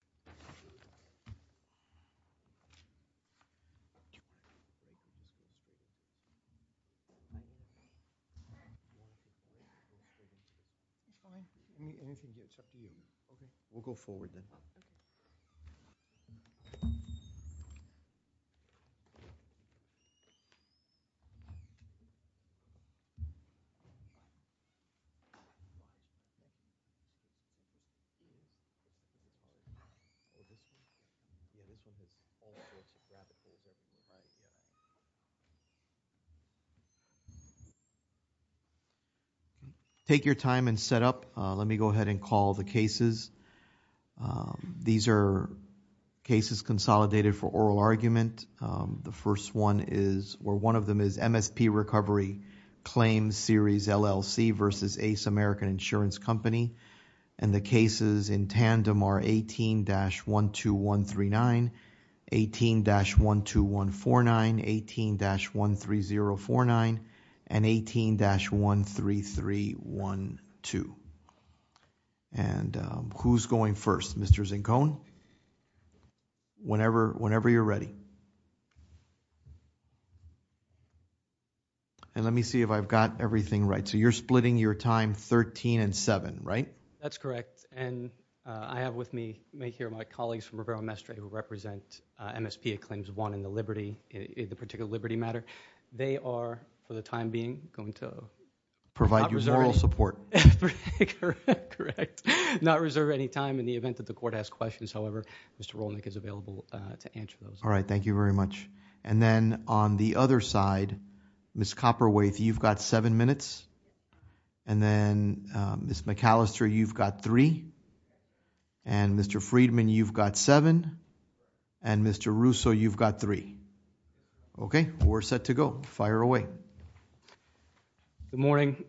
, and MSPA Claims 1, LLC v. Liberty Mutual Fire Insurance Company, and MSPA Claims 1, LLC v. Liberty Mutual Fire Insurance Company. Take your time and set up. Let me go ahead and call the cases. These are cases consolidated for oral argument. The first one is where one of them is MSP Recovery Claims, Series LLC v. Ace American Insurance and the cases in tandem are 18-12139, 18-12149, 18-13049, and 18-13312. Who's going first? Mr. Zincon? Whenever you're ready. And let me see if I've got everything right. So you're splitting your time 13 and 7, right? That's correct. And I have with me here my colleagues from Rivero Mestre who represent MSP Acclaims 1 in the particular liberty matter. They are, for the time being, going to provide you moral support. Correct. Not reserve any time in the event that the court asks questions. However, Mr. Rolnick is available to answer those. Thank you very much. And then on the other side, Ms. Copperwaithe, you've got seven minutes. And then Ms. McAllister, you've got three. And Mr. Friedman, you've got seven. And Mr. Russo, you've got three. Okay, we're set to go. Fire away. Good morning.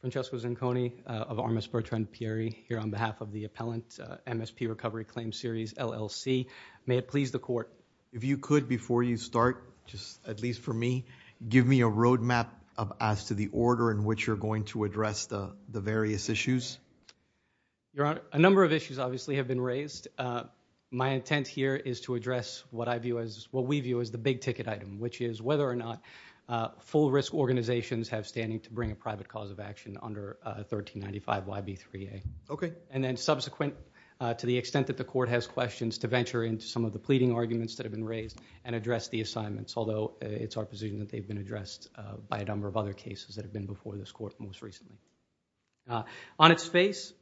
Francesco Zinconi of Armas Bertrand Pieri here on behalf of the appellant MSP Recovery Claims Series, LLC. May it please the court. If you could, before you start, just at least for me, give me a road map as to the order in which you're going to address the various issues. Your Honor, a number of issues, obviously, have been raised. My intent here is to address what we view as the big ticket item, which is whether or not full risk organizations have standing to bring a private cause of action under 1395YB3A. Okay. And then subsequent to the extent that the court has questions to venture into some of the pleading arguments that have been raised and address the assignments, although it's our position that they've been addressed by a number of other cases that have been before this court most recently. On its face,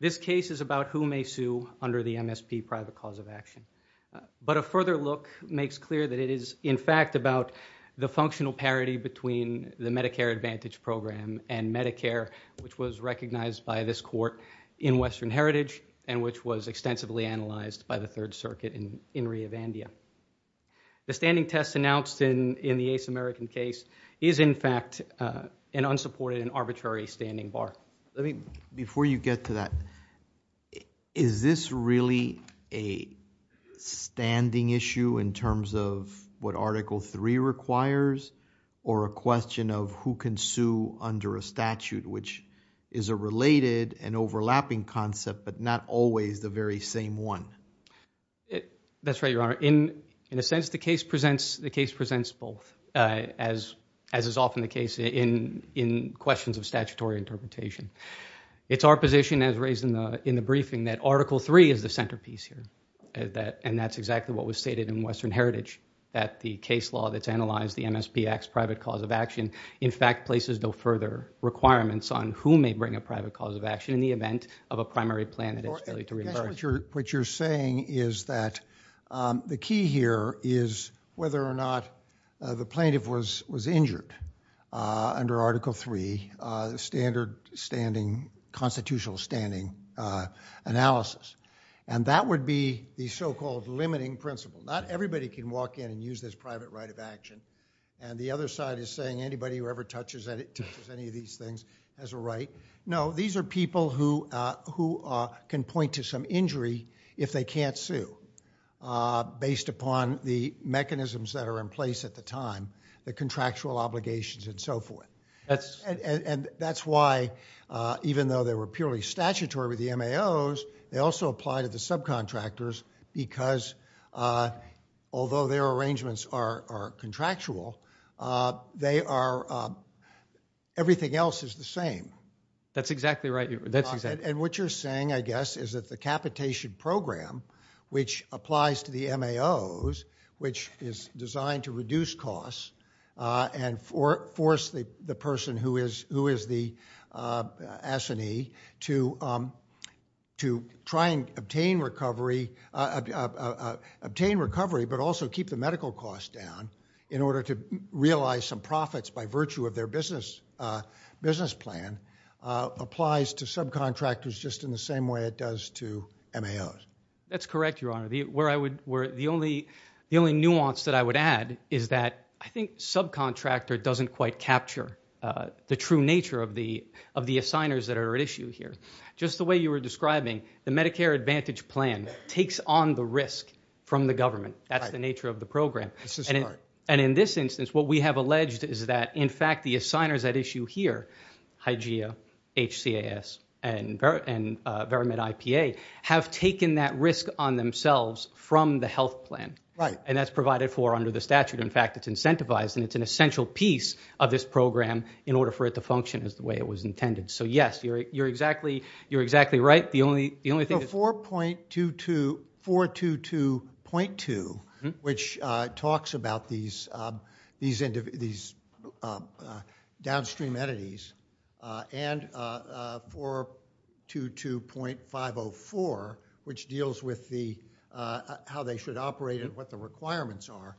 this case is about who may sue under the MSP private cause of action. But a further look makes clear that it is, in fact, about the functional parity between the Medicare Advantage Program and Medicare, which was recognized by this court in Western Heritage and which was extensively analyzed by the Third Circuit in Ria Vandia. The standing test announced in the Ace American case is, in fact, an unsupported and arbitrary standing bar. Before you get to that, is this really a standing issue in terms of what Article 3 requires or a question of who can sue under a statute, which is a related and overlapping concept but not always the very same one? That's right, Your Honor. In a sense, the case presents both, as is often the case in questions of statutory interpretation. It's our position, as raised in the briefing, that Article 3 is the centerpiece here, and that's exactly what was analyzed in the MSP private cause of action. In fact, it places no further requirements on who may bring a private cause of action in the event of a primary plan that is to be reimbursed. What you're saying is that the key here is whether or not the plaintiff was injured under Article 3, the standard constitutional standing analysis. That would be the so-called private right of action. The other side is saying anybody who ever touches any of these things has a right. No, these are people who can point to some injury if they can't sue, based upon the mechanisms that are in place at the time, the contractual obligations, and so forth. That's why, even though they were purely statutory with the MAOs, they also apply to the contractual. Everything else is the same. That's exactly right. What you're saying, I guess, is that the capitation program, which applies to the MAOs, which is designed to reduce costs and force the person who is the S&E to try and obtain recovery, but also keep the medical costs down in order to realize some profits by virtue of their business plan, applies to subcontractors just in the same way it does to MAOs. That's correct, Your Honor. The only nuance that I would add is that I think subcontractor doesn't quite capture the true nature of the assigners that are at issue here. Just the way you were describing, the Medicare Advantage plan takes on the risk from the government. That's the nature of the program. In this instance, what we have alleged is that, in fact, the assigners at issue here, Hygiea, HCAS, and Veramed IPA, have taken that risk on themselves from the health plan. That's provided for under the statute. In fact, it's incentivized, and it's an essential piece of this program in order for it to function as the way it was intended. You're exactly right. The only thing is... The 422.2, which talks about these downstream entities, and 422.504, which deals with how they should operate and what the requirements are,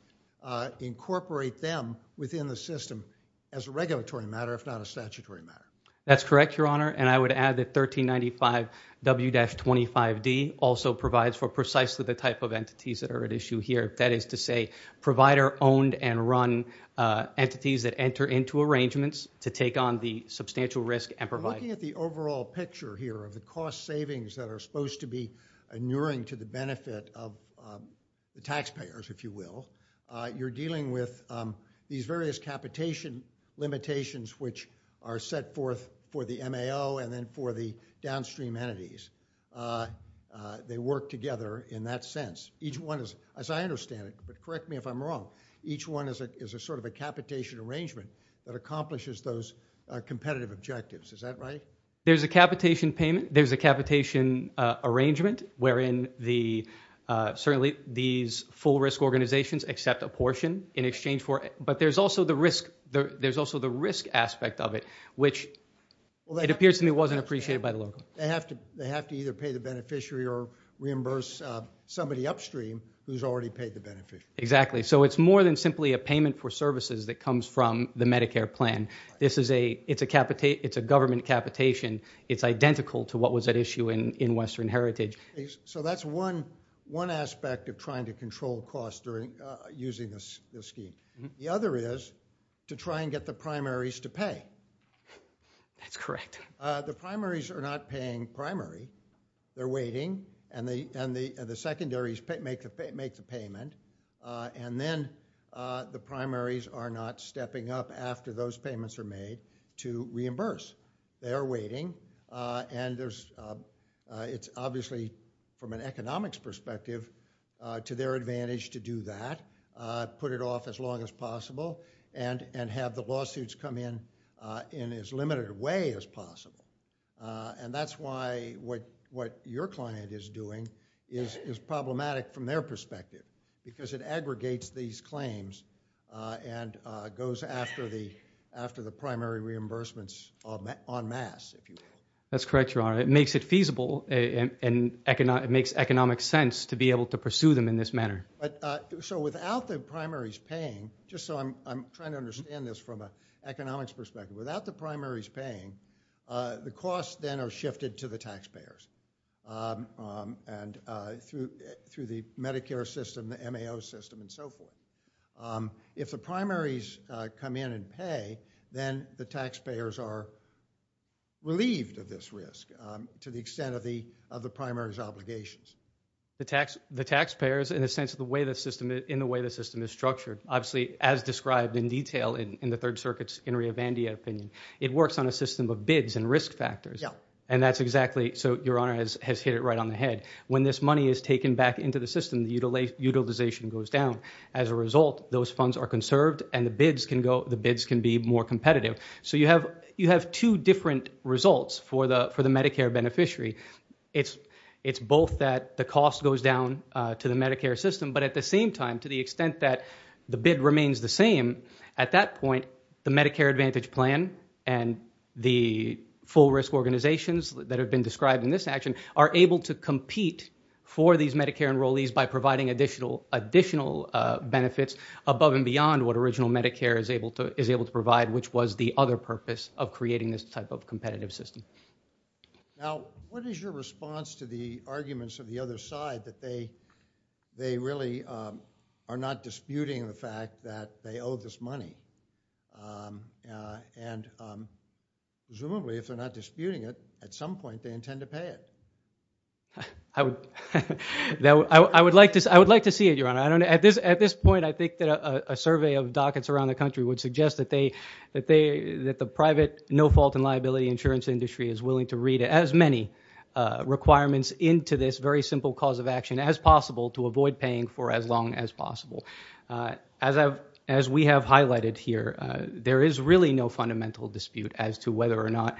incorporate them within the system as a regulatory matter, if not a statutory matter. That's correct, Your Honor. I would add that 1395W-25D also provides for precisely the type of entities that are at issue here. That is to say, provider-owned and run entities that enter into arrangements to take on the substantial risk and provide... Looking at the overall picture here of the cost savings that are supposed to be inuring to the benefit of the taxpayers, if you will, you're dealing with these various capitation limitations which are set forth for the MAO and then for the downstream entities. They work together in that sense. Each one is, as I understand it, but correct me if I'm wrong, each one is a sort of a capitation arrangement that accomplishes those competitive objectives. Is that right? There's a capitation payment. There's a capitation arrangement wherein certainly these full-risk organizations accept a portion in exchange for... But there's also the risk aspect of it, which it appears to me wasn't appreciated by the local. They have to either pay the beneficiary or reimburse somebody upstream who's already paid the benefit. Exactly. So it's more than simply a payment for services that comes from the Medicare plan. It's a government capitation. It's identical to what was at issue in Western Heritage. So that's one aspect of trying to control costs during using this scheme. The other is to try and get the primaries to pay. That's correct. The primaries are not paying primary. They're waiting and the secondaries make the payment and then the primaries are not stepping up after those payments are made to reimburse. They are waiting and it's obviously from an economics perspective to their advantage to do that, put it off as long as possible and have the lawsuits come in in as limited a way as possible. That's why what your client is doing is problematic from their perspective because it aggregates these claims and goes after the primary reimbursements en masse. That's correct, Your Honor. It makes it feasible and it makes economic sense to be able to pursue them in this manner. So without the primaries paying, just so I'm trying to understand this from an economics perspective, without the primaries paying, the costs then are shifted to the taxpayers and through the Medicare system, the MAO system and so forth. If the primaries come in and pay, then the taxpayers are relieved of this risk to the extent of the primaries' obligations. The taxpayers in the way the system is structured, obviously as described in detail in the Third Circuit's Inria Vandia opinion, it works on a system of bids and risk factors and that's exactly so Your Honor has hit it right on the head. When this money is taken back into the system, the utilization goes down. As a result, those funds are conserved and the bids can be more competitive. So you have two different results for the Medicare beneficiary. It's both that the cost goes down to the Medicare system, but at the same time, to the extent that the bid remains the same, at that point, the Medicare Advantage plan and the full risk organizations that have been described in this action are able to compete for these Medicare enrollees by providing additional benefits above and beyond what original Medicare is able to which was the other purpose of creating this type of competitive system. Now, what is your response to the arguments of the other side that they really are not disputing the fact that they owe this money? And presumably, if they're not disputing it, at some point they intend to pay it. I would like to see it, Your Honor. At this point, I think that a survey of dockets around the country would suggest that the private no fault and liability insurance industry is willing to read as many requirements into this very simple cause of action as possible to avoid paying for as long as possible. As we have highlighted here, there is really no fundamental dispute as to whether or not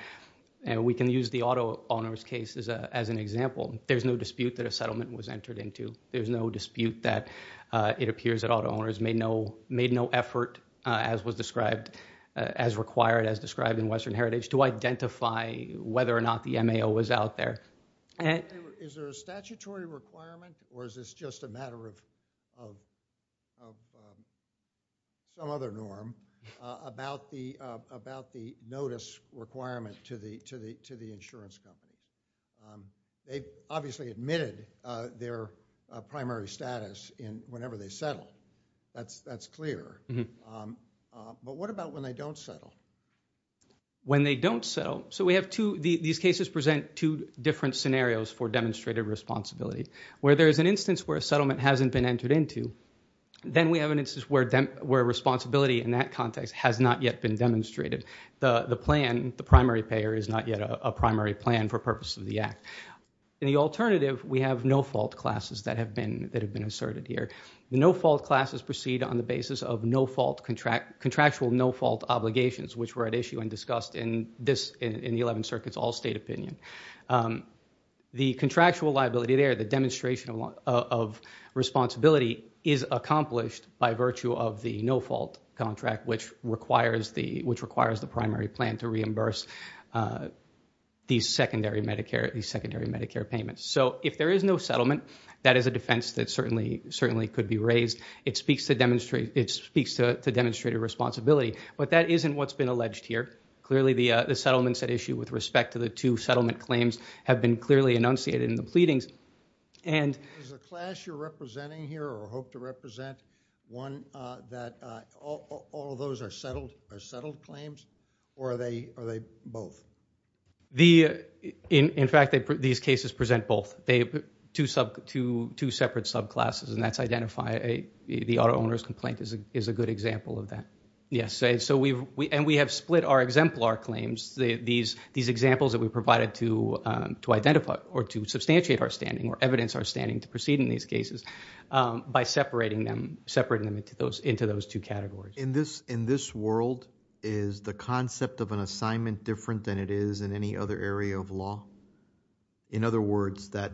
we can use the auto owners case as an example. There's no dispute that a settlement was entered into. There's no dispute that it appears that auto owners made no effort as was described as required as described in Western Heritage to identify whether or not the MAO was out there. Is there a statutory requirement or is this just a matter of some other norm about the notice requirement to the insurance company? They've obviously admitted their primary status in whenever they settle. That's clear. But what about when they don't settle? When they don't settle? So we have two, these cases present two different scenarios for demonstrated responsibility. Where there is an instance where a settlement hasn't been entered into, then we have an instance where responsibility in that context has not yet been demonstrated. The plan, the primary payer is not yet a primary plan for purpose of the act. In the alternative, we have no fault classes that have been asserted here. The no fault classes proceed on the basis of no fault contract contractual no fault obligations which were at issue and discussed in this in the 11th circuit's all state opinion. The contractual liability there, the demonstration of responsibility is accomplished by virtue of the no fault contract which requires the primary plan to reimburse these secondary Medicare payments. So if there is no settlement, that is a defense that certainly could be raised. It speaks to demonstrated responsibility. But that isn't what's been alleged here. Clearly the settlements at issue with respect to the two settlement claims have been clearly enunciated in the pleadings. Is the class you're representing here or hope to represent one that all of those are settled claims or are they both? The, in fact, these cases present both. Two separate subclasses and that's identify the auto owner's complaint is a good example of that. Yes, and we have split our exemplar claims, these examples that we provided to identify or to substantiate our standing or evidence our standing to proceed in these cases by separating them into those two categories. In this world, is the concept of an assignment different than it is in any other area of law? In other words, that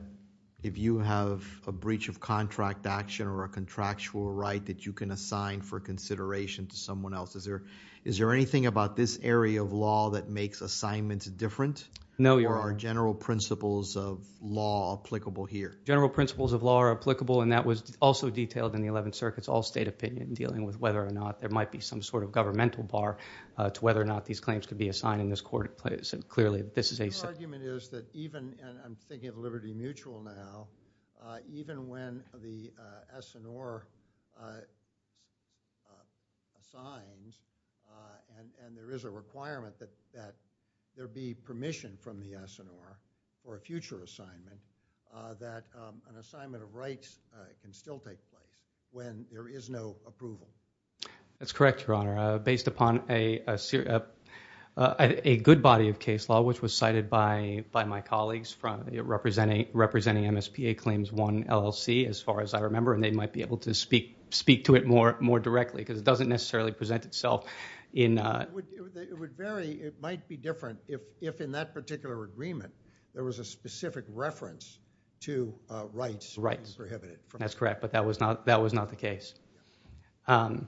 if you have a breach of contract action or a contractual right that you can assign for consideration to someone else, is there anything about this area of law that makes assignments different? No, Your Honor. Or are general principles of law applicable here? General principles of law are applicable and that was also detailed in the 11th circuit's opinion dealing with whether or not there might be some sort of governmental bar to whether or not these claims could be assigned in this court. Clearly, this is a... Your argument is that even, and I'm thinking of Liberty Mutual now, even when the SNR assigns and there is a requirement that there be permission from the SNR for a future assignment, that an assignment of rights can still take place when there is no approval. That's correct, Your Honor. Based upon a good body of case law, which was cited by my colleagues from representing MSPA Claims 1 LLC, as far as I remember, and they might be able to speak to it more directly because it doesn't necessarily present itself in... It would vary. It might be different if in that particular agreement, there was a specific reference to rights being prohibited. That's correct, but that was not the case. Well,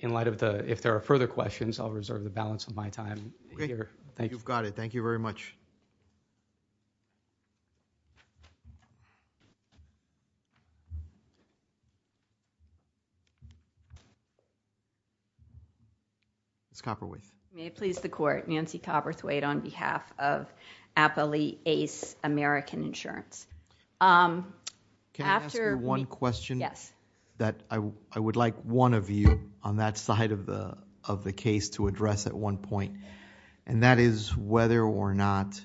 in light of the, if there are further questions, I'll reserve the balance of my time. Great. Thank you. You've got it. Thank you very much. Ms. Copperthwaite. May it please the court, Nancy Copperthwaite on behalf of Appley Ace American Insurance. Can I ask you one question? Yes. That I would like one of you on that side of the case to address at one point, and that is whether or not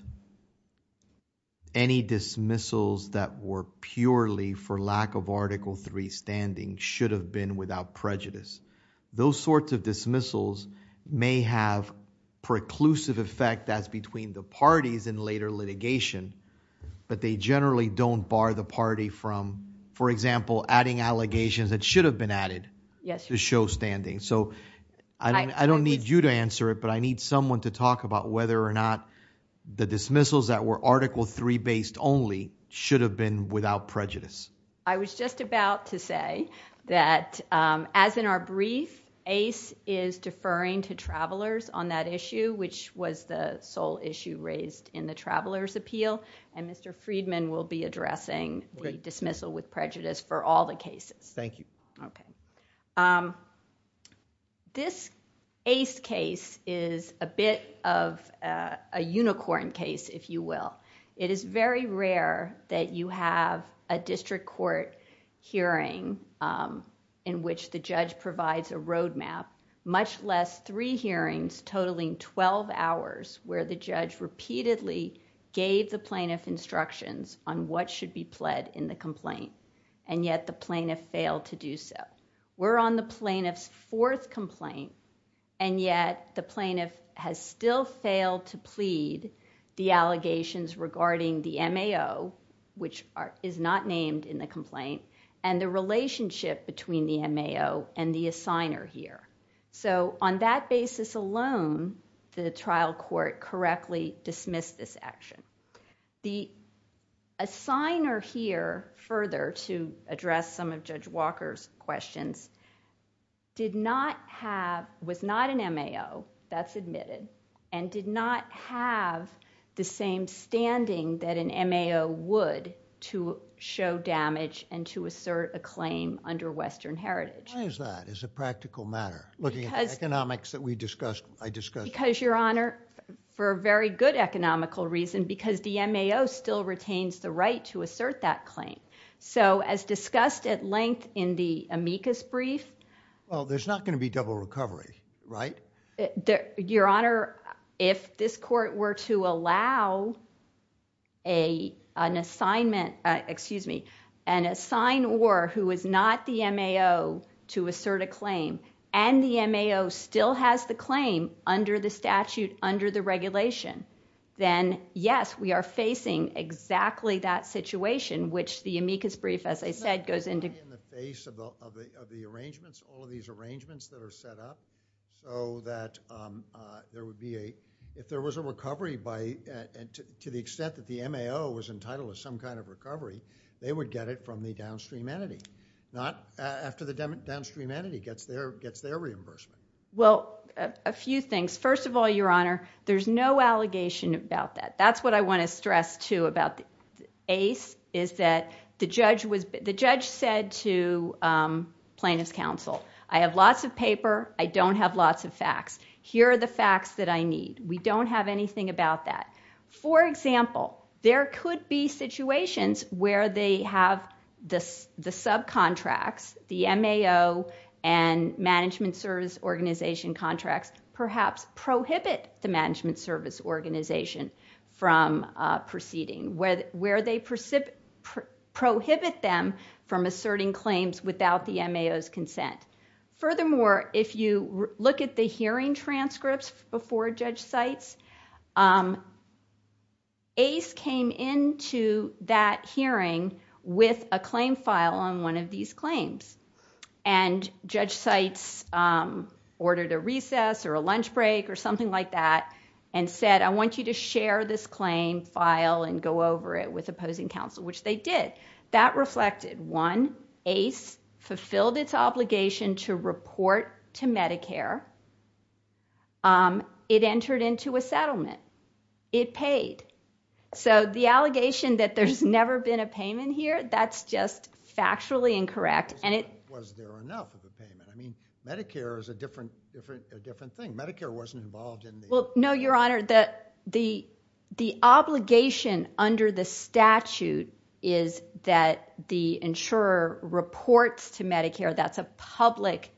any dismissals that were purely for lack of Article III standing should have been without prejudice. Those sorts of dismissals may have preclusive effect that's between the parties in later litigation, but they generally don't bar the party from, for example, adding allegations that should have been added to show standing. I don't need you to answer it, but I need someone to talk about whether or not the dismissals that were Article III based only should have been without prejudice. I was just about to say that as in our brief, Ace is deferring to travelers on that issue, which was the sole issue raised in the traveler's appeal, and Mr. Friedman will be addressing the dismissal with prejudice for all the cases. Thank you. Okay. This Ace case is a bit of a unicorn case, if you will. It is very rare that you have a district court hearing in which the judge provides a roadmap, much less three hearings totaling 12 hours where the judge repeatedly gave the plaintiff instructions on what should be pled in the complaint, and yet the plaintiff failed to do so. We're on the plaintiff's fourth complaint, and yet the plaintiff has still failed to plead the allegations regarding the MAO, which is not named in the complaint, and the relationship between the MAO and the assigner here. On that basis alone, the trial court correctly dismissed this action. The assigner here further to address some of Judge Walker's questions did not have, was not an MAO. That's admitted, and did not have the same standing that an MAO would to show damage and to assert a claim under Western Heritage. Why is that? It's a practical matter. Looking at the economics that I discussed. Because, Your Honor, for a very good economical reason, because the MAO still retains the right to assert that claim. As discussed at length in the amicus brief. Well, there's not going to be double recovery, right? Your Honor, if this court were to allow an assignment, excuse me, an assignor who is not the MAO to assert a claim, and the MAO still has the claim under the statute, under the regulation, then, yes, we are facing exactly that situation, which the amicus brief, as I said, goes into. In the face of the arrangements, all of these arrangements that are set up, so that there would be a, if there was a recovery by, to the extent that the MAO was entitled to some kind of recovery, they would get it from the downstream entity. Not after the downstream entity gets their reimbursement. Well, a few things. First of all, Your Honor, there's no allegation about that. That's what I want to stress, too, about the ACE, is that the judge said to plaintiff's counsel, I have lots of paper, I don't have lots of facts. Here are the facts that I need. We don't have anything about that. For example, there could be situations where they have the subcontracts, the MAO and management service organization contracts, perhaps prohibit the management service organization from proceeding. Where they prohibit them from asserting claims without the MAO's consent. Furthermore, if you look at the hearing transcripts before Judge Seitz, ACE came into that hearing with a claim file on one of these claims. And Judge Seitz ordered a recess or a lunch break or something like that and said, I want you to share this claim file and go over it with opposing counsel, which they did. That reflected, one, ACE fulfilled its obligation to report to Medicare. It entered into a settlement. It paid. So the allegation that there's never been a payment here, that's just factually incorrect. Was there enough of a payment? I mean, Medicare is a different thing. Medicare wasn't involved in the... Well, no, Your Honor. The obligation under the statute is that the insurer reports to Medicare. That's a public...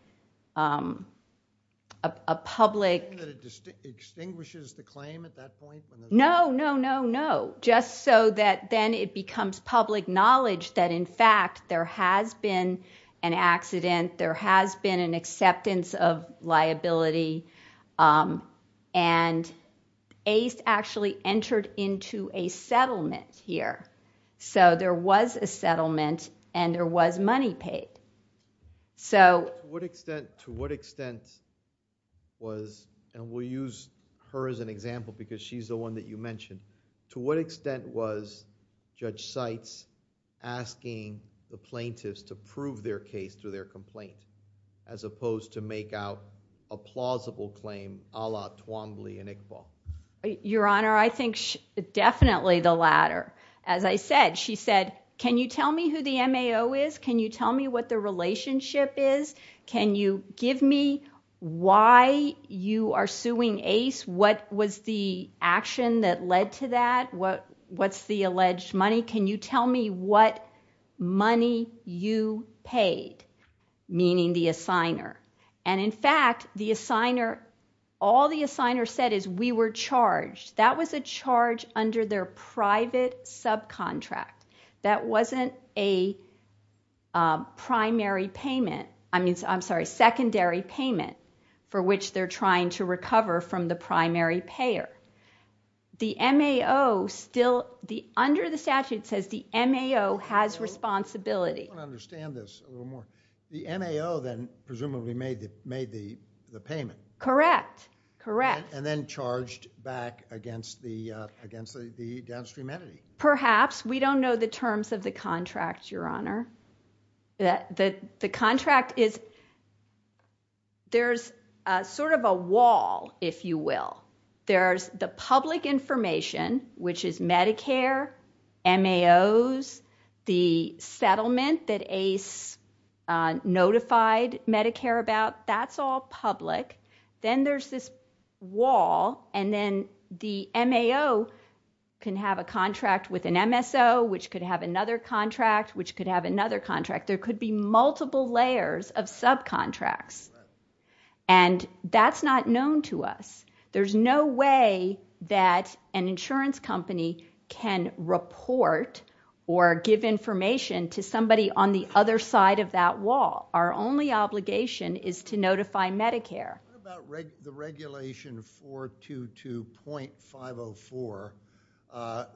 A public... Do you think that it extinguishes the claim at that point? No, no, no, no. Just so that then it becomes public knowledge that in fact, there has been an accident. There has been an acceptance of liability. And ACE actually entered into a settlement here. So there was a settlement and there was money paid. To what extent was, and we'll use her as an example because she's the one that you mentioned. To what extent was Judge Seitz asking the plaintiffs to prove their case through their complaint as opposed to make out a plausible claim a la Twombly and Iqbal? Your Honor, I think definitely the latter. As I said, she said, can you tell me who the MAO is? Can you tell me what the relationship is? Can you give me why you are suing ACE? What was the action that led to that? What's the alleged money? Can you tell me what money you paid? Meaning the assigner. And in fact, the assigner, all the assigner said is we were charged. That was a charge under their private subcontract. That wasn't a primary payment. I mean, I'm sorry, secondary payment for which they're trying to recover from the primary payer. The MAO still, under the statute says the MAO has responsibility. I want to understand this a little more. The MAO then presumably made the payment. Correct, correct. And then charged back against the downstream entity. Perhaps. We don't know the terms of the contract, Your Honor. The contract is, there's sort of a wall, if you will. There's the public information, which is Medicare, MAOs, the settlement that ACE notified Medicare about, that's all public. Then there's this wall. And then the MAO can have a contract with an MSO, which could have another contract, which could have another contract. There could be multiple layers of subcontracts. And that's not known to us. There's no way that an insurance company can report or give information to somebody on the other side of that wall. Our only obligation is to notify Medicare. What about the regulation 422.504,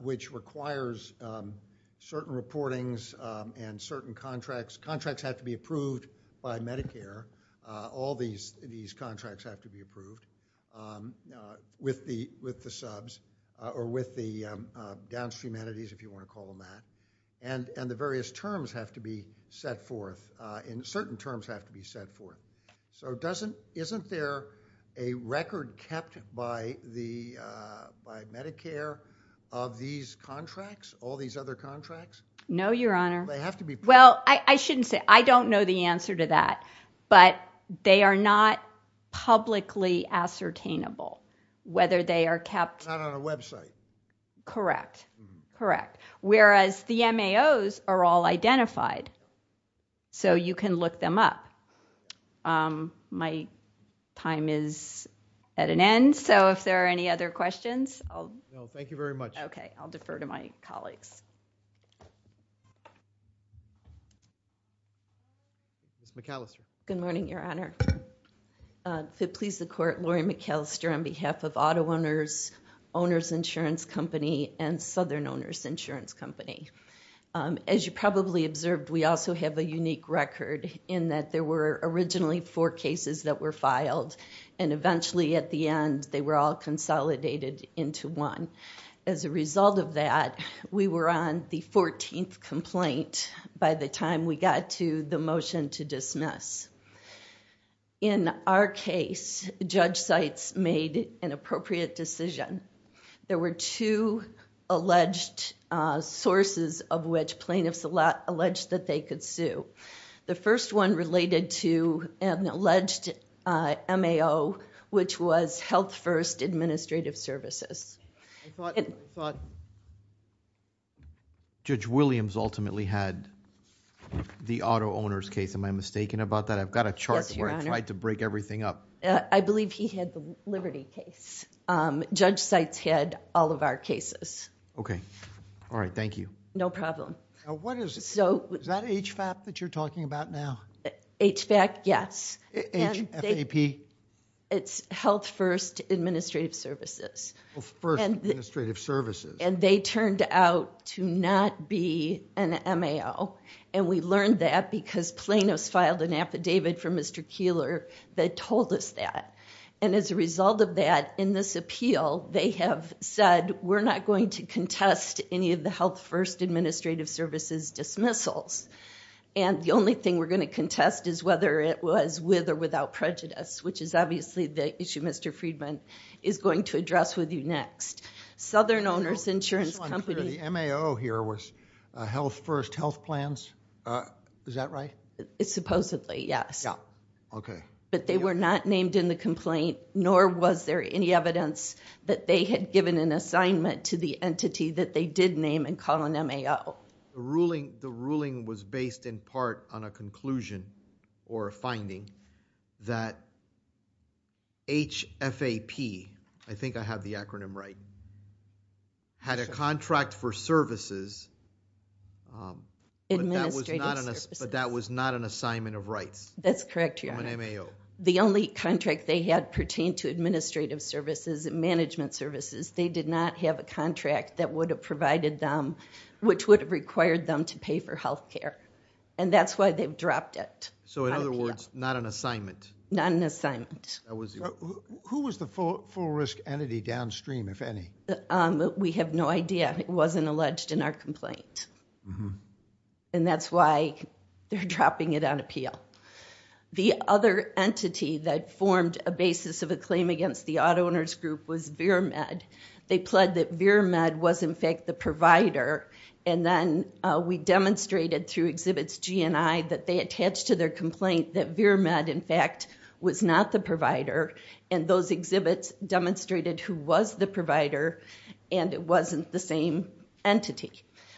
which requires certain reportings and certain contracts? Contracts have to be approved by Medicare. All these contracts have to be approved with the subs or with the downstream entities, if you want to call them that. And the various terms have to be set forth. And certain terms have to be set forth. So isn't there a record kept by Medicare of these contracts, all these other contracts? No, Your Honor. They have to be approved. Well, I shouldn't say. I don't know the answer to that. But they are not publicly ascertainable, whether they are kept. Not on a website. Correct. Correct. Whereas the MAOs are all identified. So you can look them up. My time is at an end. So if there are any other questions. Thank you very much. Okay. I'll defer to my colleagues. Ms. McAllister. Good morning, Your Honor. To please the Court, Laurie McAllister on behalf of Auto Owners, Owners Insurance Company, and Southern Owners Insurance Company. As you probably observed, we also have a unique record in that there were originally four cases that were filed. And eventually at the end, they were all consolidated into one. As a result of that, we were on the 14th complaint by the time we got to the motion to dismiss. In our case, Judge Seitz made an appropriate decision. There were two alleged sources of which plaintiffs alleged that they could sue. The first one related to an alleged MAO, which was Health First Administrative Services. I thought Judge Williams ultimately had the auto owners case. Am I mistaken about that? I've got a chart where I tried to break everything up. I believe he had the Liberty case. Judge Seitz had all of our cases. Okay. All right. Thank you. No problem. What is it? Is that HFAP that you're talking about now? HFAP, yes. H-F-A-P? It's Health First Administrative Services. Health First Administrative Services. And they turned out to not be an MAO. And we learned that because Plano's filed an affidavit for Mr. Keeler that told us that. And as a result of that, in this appeal, they have said, we're not going to contest any of the Health First Administrative Services dismissals. And the only thing we're going to contest is whether it was with or without prejudice, which is obviously the issue Mr. Friedman is going to address with you next. Southern Owners Insurance Company- The MAO here was Health First Health Plans. Is that right? Supposedly, yes. Yeah. Okay. But they were not named in the complaint, nor was there any evidence that they had given an assignment to the entity that they did name and call an MAO. The ruling was based in part on a conclusion or a finding that HFAP, I think I have the acronym right, had a contract for services. Administrative Services. But that was not an assignment of rights. That's correct, Your Honor. From an MAO. The only contract they had pertained to administrative services and management services. They did not have a contract that would have provided them, which would have required them to pay for health care. And that's why they've dropped it. So in other words, not an assignment. Not an assignment. Who was the full risk entity downstream, if any? We have no idea. It wasn't alleged in our complaint. And that's why they're dropping it on appeal. The other entity that formed a basis of a claim against the auto owners group was VirMed. They pled that VirMed was, in fact, the provider. And then we demonstrated through exhibits GNI that they attached to their complaint that VirMed, in fact, was not the provider. And those exhibits demonstrated who was the provider and it wasn't the same entity.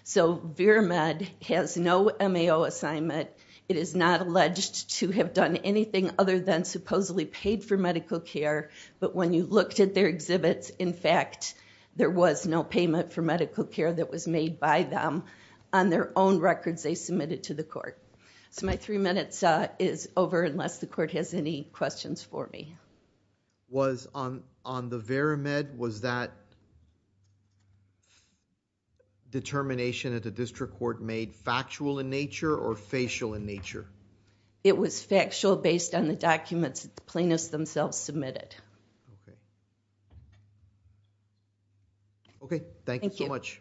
So VirMed has no MAO assignment. It is not alleged to have done anything other than supposedly paid for medical care. But when you looked at their exhibits, in fact, there was no payment for medical care that was made by them on their own records they submitted to the court. So my three minutes is over unless the court has any questions for me. Was on the VirMed, was that determination at the district court made factual in nature or facial in nature? It was factual based on the documents the plaintiffs themselves submitted. Okay. Thank you so much.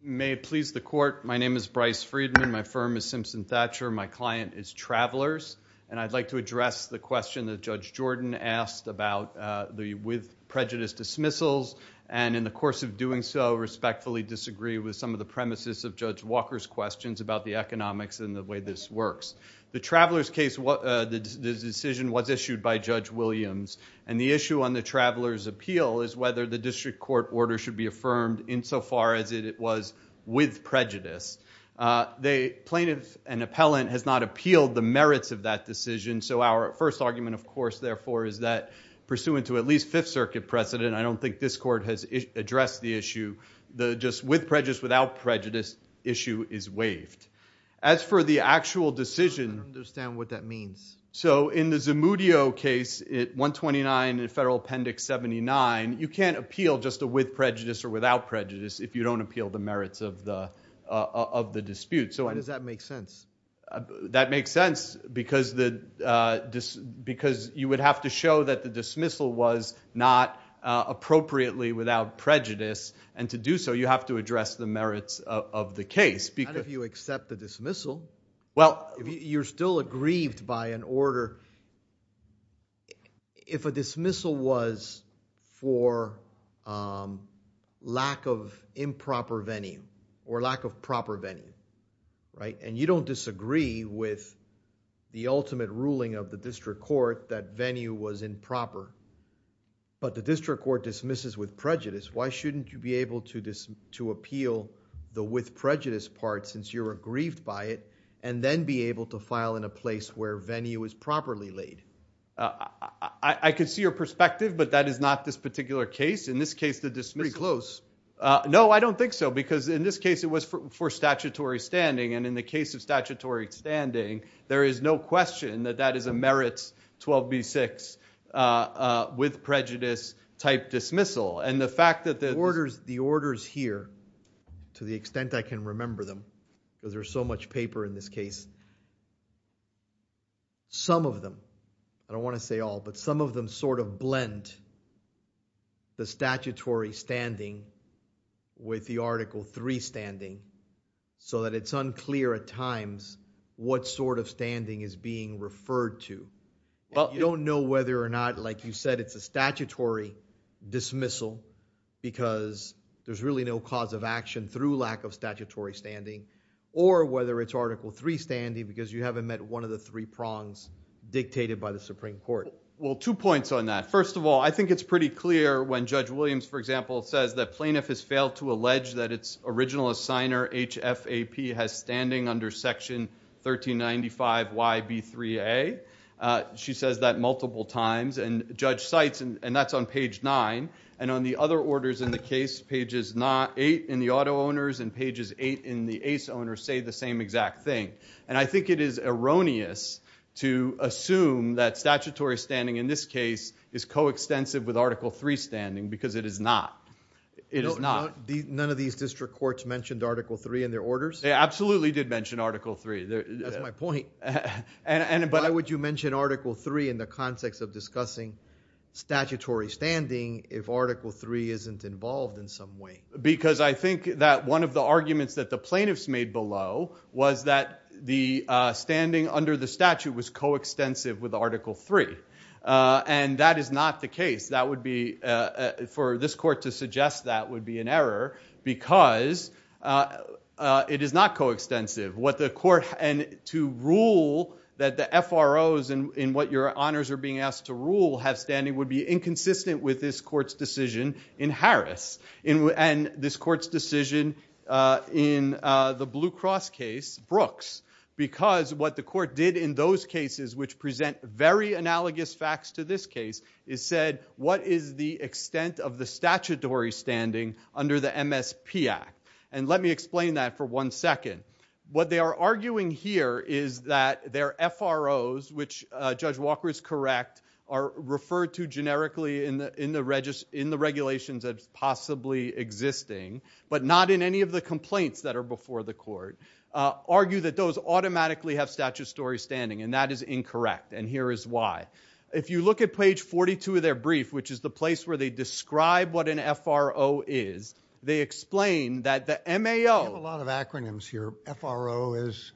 You may please the court. My name is Bryce Friedman. My firm is Simpson Thatcher. My client is Travelers. And I'd like to address the question that Judge Jordan asked about the with prejudice dismissals. And in the course of doing so, respectfully disagree with some of the premises of Judge Walker's questions about the economics and the way this works. The Travelers case, the decision was issued by Judge Williams. And the issue on the Travelers' appeal is whether the district court order should be affirmed insofar as it was with prejudice. The plaintiff and appellant has not appealed the merits of that decision. So our first argument, of course, therefore, is that pursuant to at least Fifth Circuit precedent, I don't think this court has addressed the issue, the just with prejudice, without prejudice issue is waived. As for the actual decision. I don't understand what that means. So in the Zamudio case, 129 Federal Appendix 79, you can't appeal just a with prejudice or of the dispute. So why does that make sense? That makes sense because you would have to show that the dismissal was not appropriately without prejudice. And to do so, you have to address the merits of the case. And if you accept the dismissal, you're still aggrieved by an order. If a dismissal was for lack of improper venue or lack of proper venue, right? And you don't disagree with the ultimate ruling of the district court that venue was improper, but the district court dismisses with prejudice. Why shouldn't you be able to appeal the with prejudice part since you're aggrieved by it and then be able to file in a place where venue is properly laid? I could see your perspective, but that is not this particular case. In this case, the dismissal. It's pretty close. No, I don't think so. Because in this case, it was for statutory standing. And in the case of statutory standing, there is no question that that is a merits 12B6 with prejudice type dismissal. And the fact that the orders here, to the extent I can remember them, because there's so much paper in this case, some of them, I don't want to say all, but some of them sort of blend the statutory standing with the Article III standing so that it's unclear at times what sort of standing is being referred to. Well, you don't know whether or not, like you said, it's a statutory dismissal because there's really no cause of action through lack of statutory standing. Or whether it's Article III standing because you haven't met one of the three prongs dictated by the Supreme Court. Well, two points on that. First of all, I think it's pretty clear when Judge Williams, for example, says that plaintiff has failed to allege that its original assigner, HFAP, has standing under section 1395YB3A. She says that multiple times. And Judge cites, and that's on page 9. And on the other orders in the case, pages 8 in the auto owners and pages 8 in the ace owners say the same exact thing. And I think it is erroneous to assume that statutory standing in this case is coextensive with Article III standing because it is not. It is not. None of these district courts mentioned Article III in their orders? They absolutely did mention Article III. That's my point. Why would you mention Article III in the context of discussing statutory standing if Article III isn't involved in some way? Because I think that one of the arguments that the plaintiffs made below was that the standing under the statute was coextensive with Article III. And that is not the case. For this court to suggest that would be an error because it is not coextensive. And to rule that the FROs, in what your honors are being asked to rule, have standing would be inconsistent with this court's decision in Harris. And this court's decision in the Blue Cross case, Brooks. Because what the court did in those cases which present very analogous facts to this case is said, what is the extent of the statutory standing under the MSP Act? And let me explain that for one second. What they are arguing here is that their FROs, which Judge Walker is correct, are referred to generically in the regulations that are possibly existing, but not in any of the complaints that are before the court, argue that those automatically have statutory standing. And that is incorrect. And here is why. If you look at page 42 of their brief, which is the place where they describe what an FRO is, they explain that the MAO... We have a lot of acronyms here. FRO is...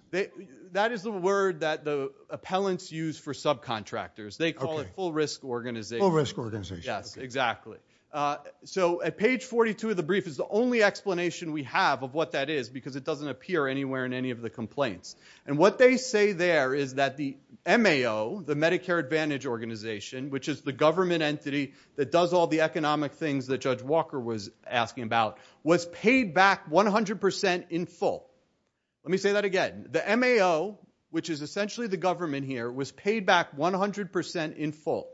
That is the word that the appellants use for subcontractors. They call it Full Risk Organization. Full Risk Organization. Yes, exactly. So at page 42 of the brief is the only explanation we have of what that is, because it doesn't appear anywhere in any of the complaints. And what they say there is that the MAO, the Medicare Advantage Organization, which is the government entity that does all the economic things that Judge Walker was asking about, was paid back 100% in full. Let me say that again. The MAO, which is essentially the government here, was paid back 100% in full.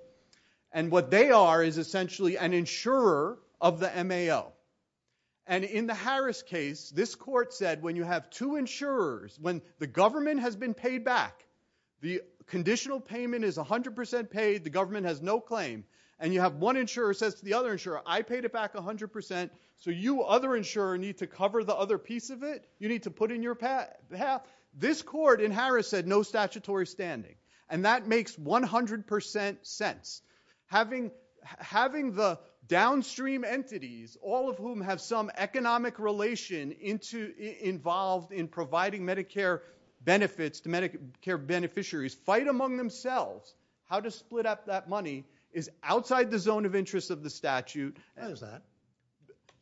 And what they are is essentially an insurer of the MAO. And in the Harris case, this court said when you have two insurers, when the government has been paid back, the conditional payment is 100% paid, the government has no claim, and you have one insurer says to the other insurer, I paid it back 100%, so you, other insurer, need to cover the other piece of it? You need to put in your path? This court in Harris said no statutory standing. And that makes 100% sense. Having the downstream entities, all of whom have some economic relation involved in providing Medicare benefits to Medicare beneficiaries, fight among themselves how to split up that money, is outside the zone of interest of the statute. Why is that?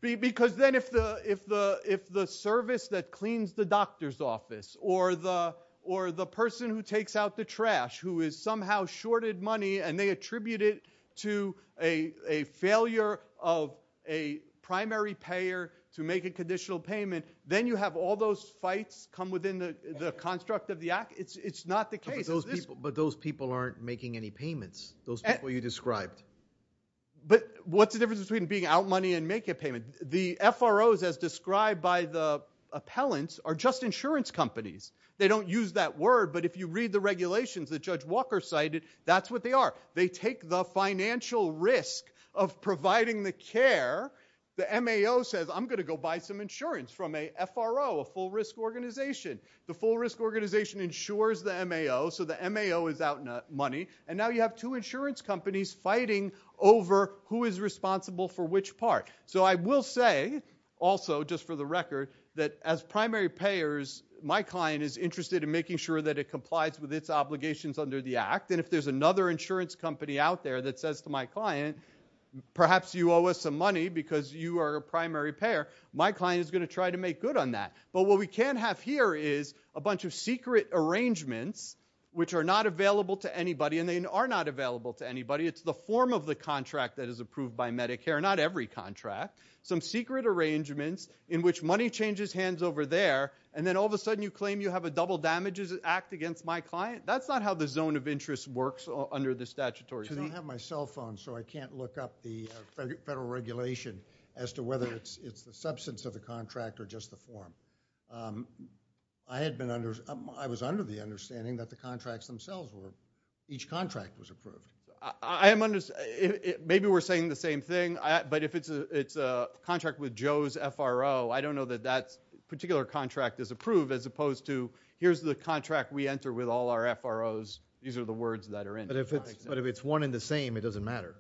Because then if the service that cleans the doctor's office, or the person who takes out the trash, who is somehow shorted money, and they attribute it to a failure of a primary payer to make a conditional payment, then you have all those fights come within the construct of the act? It's not the case. But those people aren't making any payments, those people you described. But what's the difference between being out money and making a payment? The FROs, as described by the appellants, are just insurance companies. They don't use that word, but if you read the regulations that Judge Walker cited, that's what they are. They take the financial risk of providing the care. The MAO says, I'm going to go buy some insurance from a FRO, a full risk organization. The full risk organization insures the MAO, so the MAO is out money, and now you have two insurance companies fighting over who is responsible for which part. So I will say, also, just for the record, that as primary payers, my client is interested in making sure that it complies with its obligations under the act. And if there's another insurance company out there that says to my client, perhaps you owe us some money because you are a primary payer, my client is going to try to make good on that. But what we can have here is a bunch of secret arrangements, which are not available to anybody, and they are not available to anybody. It's the form of the contract that is approved by Medicare, not every contract. Some secret arrangements in which money changes hands over there, and then all of a sudden you claim you have a double damages act against my client. That's not how the zone of interest works under the statutory zone. I don't have my cell phone, so I can't look up the federal regulation as to whether it's the substance of the contract or just the form. But I was under the understanding that the contracts themselves were, each contract was approved. Maybe we're saying the same thing, but if it's a contract with Joe's FRO, I don't know that that particular contract is approved as opposed to, here's the contract we enter with all our FROs. These are the words that are in it. But if it's one and the same, it doesn't matter.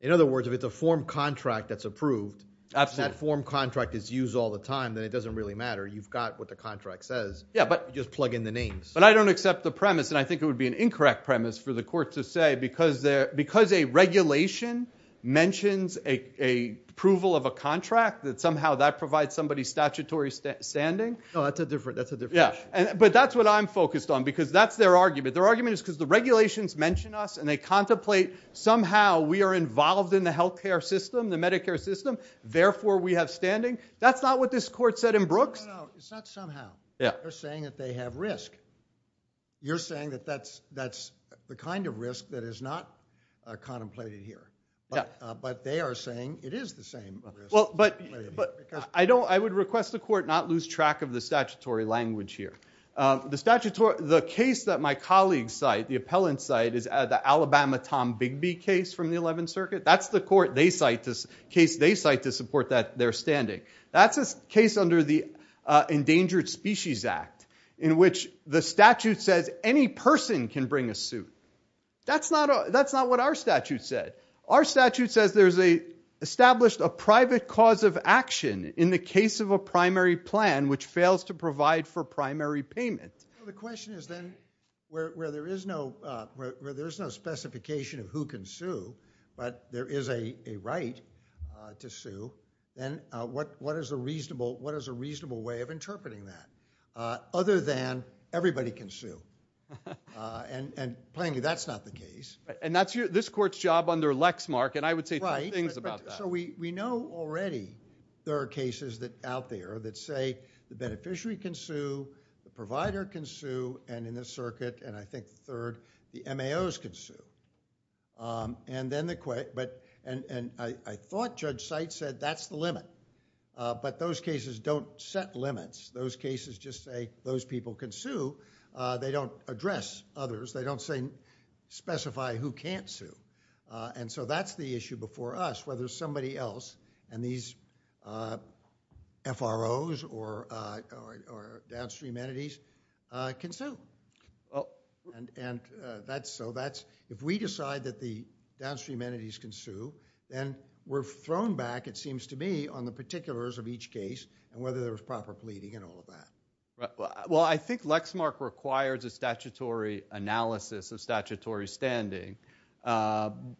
In other words, if it's a form contract that's approved, that form contract is used all the time, then it doesn't really matter. You've got what the contract says. Yeah, but just plug in the names. But I don't accept the premise, and I think it would be an incorrect premise for the court to say, because a regulation mentions approval of a contract, that somehow that provides somebody statutory standing. No, that's a different issue. But that's what I'm focused on, because that's their argument. Their argument is because the regulations mention us, and they contemplate somehow we are involved in the healthcare system, the Medicare system, therefore we have standing. That's not what this court said in Brooks. No, no, it's not somehow. Yeah. They're saying that they have risk. You're saying that that's the kind of risk that is not contemplated here. Yeah. But they are saying it is the same risk. Well, but I would request the court not lose track of the statutory language here. The case that my colleagues cite, the appellant cite, is the Alabama Tom Bigby case from the 11th Circuit. That's the case they cite to support their standing. That's a case under the Endangered Species Act, in which the statute says any person can bring a suit. That's not what our statute said. Our statute says there's established a private cause of action in the case of a primary plan which fails to provide for primary payment. The question is then, where there is no specification of who can sue, but there is a right to sue, then what is a reasonable way of interpreting that? Other than everybody can sue. And plainly, that's not the case. And that's this court's job under Lexmark. And I would say two things about that. So we know already there are cases that out there that say the beneficiary can sue, the provider can sue, and in this circuit, and I think third, the MAOs can sue. And I thought Judge Seitz said that's the limit. But those cases don't set limits. Those cases just say those people can sue. They don't address others. They don't specify who can't sue. And so that's the issue before us, whether somebody else and these FROs or downstream entities can sue. And so if we decide that the downstream entities can sue, then we're thrown back, it seems to me, on the particulars of each case and whether there was proper pleading and all of that. Well, I think Lexmark requires a statutory analysis of statutory standing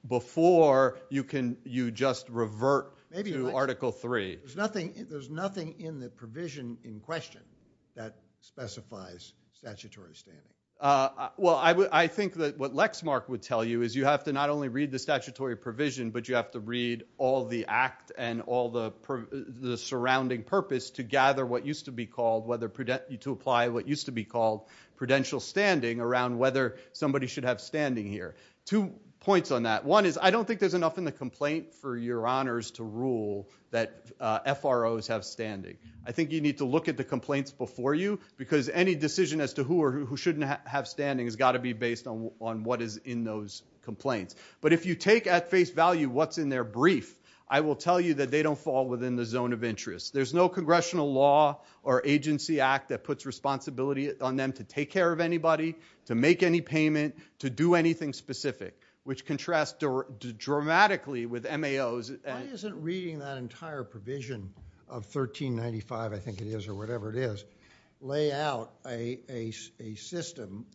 before you just revert to Article III. There's nothing in the provision in question that specifies statutory standing. Well, I think that what Lexmark would tell you is you have to not only read the statutory provision, but you have to read all the act and all the surrounding purpose to gather what used to be called whether to apply what used to be called prudential standing around whether somebody should have standing here. Two points on that. One is I don't think there's enough in the complaint for your honors to rule that FROs have standing. I think you need to look at the complaints before you because any decision as to who or who shouldn't have standing has got to be based on what is in those complaints. But if you take at face value what's in their brief, I will tell you that they don't fall within the zone of interest. There's no congressional law or agency act that puts responsibility on them to take care of anybody, to make any payment, to do anything specific, which contrasts dramatically with MAOs. Why isn't reading that entire provision of 1395, I think it is, or whatever it is, lay out a system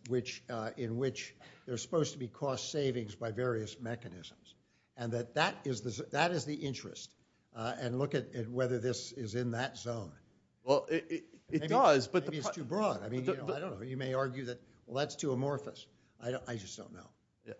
in which there's supposed to be cost savings by various mechanisms and that that is the interest. And look at whether this is in that zone. Well, it does. But maybe it's too broad. I mean, I don't know. You may argue that, well, that's too amorphous. I just don't know.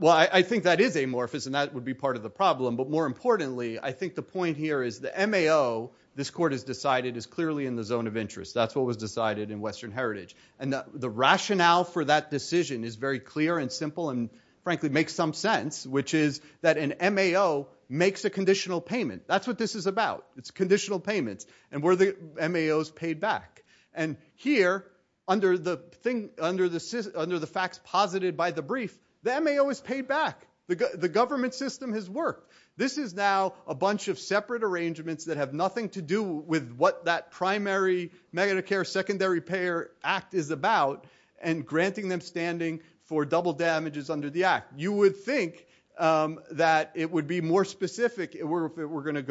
Well, I think that is amorphous and that would be part of the problem. But more importantly, I think the point here is the MAO, this court has decided, is clearly in the zone of interest. That's what was decided in Western Heritage. And the rationale for that decision is very clear and simple and, frankly, makes some sense, which is that an MAO makes a conditional payment. That's what this is about. It's conditional payments. And where the MAO is paid back. And here, under the facts posited by the brief, the MAO is paid back. The government system has worked. This is now a bunch of separate arrangements that have nothing to do with what that primary Medicare secondary payer act is about and granting them standing for double damages under the act. You would think that it would be more specific if it were going to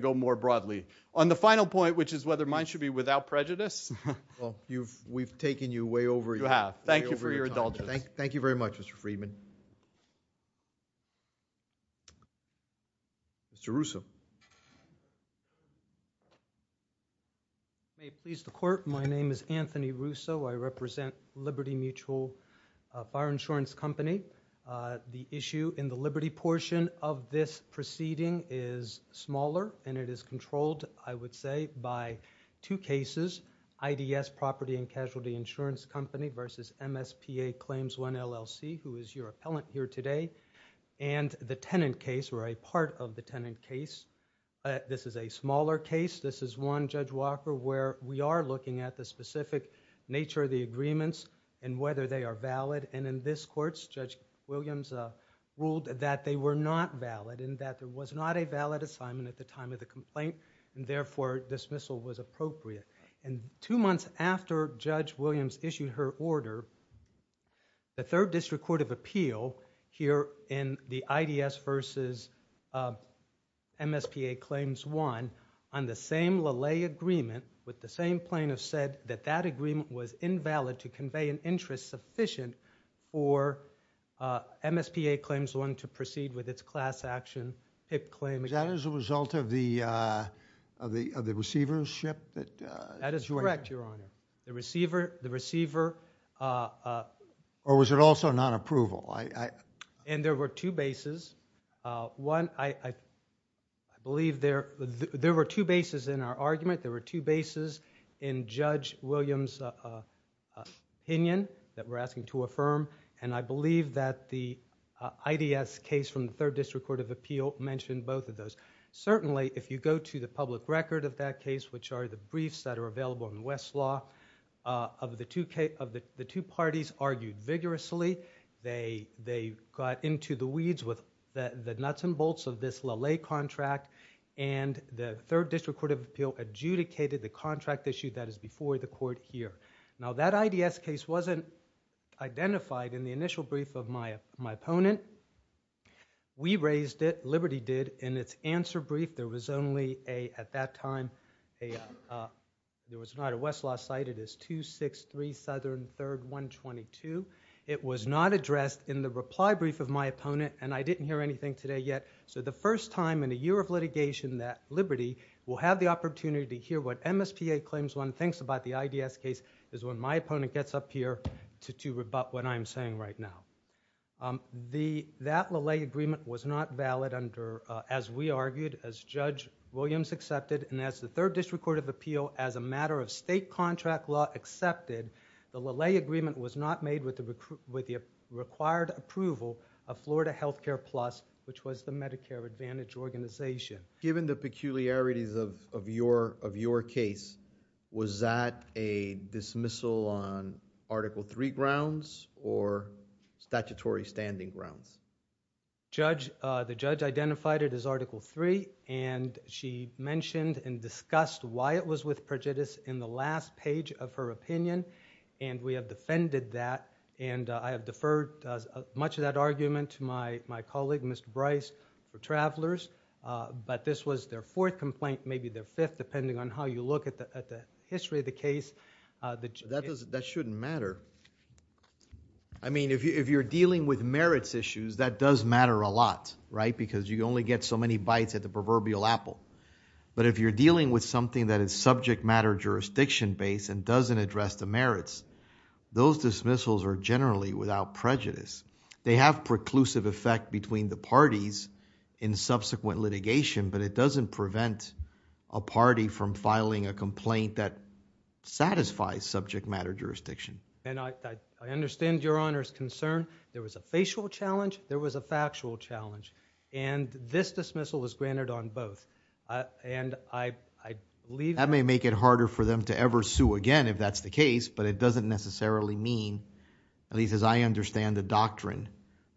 go more broadly. On the final point, which is whether mine should be without prejudice. Well, we've taken you way over your time. You have. Thank you for your indulgence. Thank you very much, Mr. Friedman. Mr. Russo. If you may please the court. My name is Anthony Russo. I represent Liberty Mutual Fire Insurance Company. The issue in the Liberty portion of this proceeding is smaller and it is controlled, I would say, by two cases. IDS Property and Casualty Insurance Company versus MSPA Claims 1 LLC, who is your appellant here today. And the tenant case, or a part of the tenant case. This is a smaller case. This is one, Judge Walker, where we are looking at the specific nature of the agreements and whether they are valid. And in this court, Judge Williams ruled that they were not valid and that there was not a valid assignment at the time of the complaint. And therefore, dismissal was appropriate. And two months after Judge Williams issued her order, the Third District Court of Appeal, here in the IDS versus MSPA Claims 1, on the same LaLaye agreement, with the same plaintiff said that that agreement was invalid to convey an interest sufficient for MSPA Claims 1 to proceed with its class action HIP claim. Is that as a result of the receivership? That is correct, Your Honor. The receiver... The receiver... Or was it also non-approval? And there were two bases. One, I believe there were two bases in our argument. There were two bases in Judge Williams' opinion that we're asking to affirm. And I believe that the IDS case from the Third District Court of Appeal mentioned both of those. Certainly, if you go to the public record of that case, which are the briefs that are available in Westlaw, of the two parties argued vigorously. They got into the weeds with the nuts and bolts of this LaLaye contract. And the Third District Court of Appeal adjudicated the contract issue that is before the court here. Now, that IDS case wasn't identified in the initial brief of my opponent. We raised it, Liberty did. In its answer brief, there was only, at that time, there was not a Westlaw cite. It is 263 Southern 3rd 122. It was not addressed in the reply brief of my opponent. And I didn't hear anything today yet. So the first time in a year of litigation that Liberty will have the opportunity to hear what MSPA claims one thinks about the IDS case is when my opponent gets up here to rebut what I'm saying right now. That LaLaye agreement was not valid under, as we argued, as Judge Williams accepted, and as the Third District Court of Appeal, as a matter of state contract law accepted, the LaLaye agreement was not made with the required approval of Florida Healthcare Plus, which was the Medicare Advantage organization. Given the peculiarities of your case, was that a dismissal on Article III grounds or statutory standing grounds? The judge identified it as Article III and she mentioned and discussed why it was with prejudice in the last page of her opinion. And we have defended that. And I have deferred much of that argument to my colleague, Mr. Bryce, for travelers. But this was their fourth complaint, maybe their fifth, depending on how you look at the history of the case. That shouldn't matter. I mean, if you're dealing with merits issues, that does matter a lot, right? Because you only get so many bites at the proverbial apple. But if you're dealing with something that is subject matter jurisdiction-based and doesn't address the merits, those dismissals are generally without prejudice. They have preclusive effect between the parties in subsequent litigation, but it doesn't prevent a party from filing a complaint that satisfies subject matter jurisdiction. And I understand Your Honor's concern. There was a facial challenge. There was a factual challenge. And this dismissal was granted on both. And I believe- That may make it harder for them to ever sue again, if that's the case. But it doesn't necessarily mean, at least as I understand the doctrine,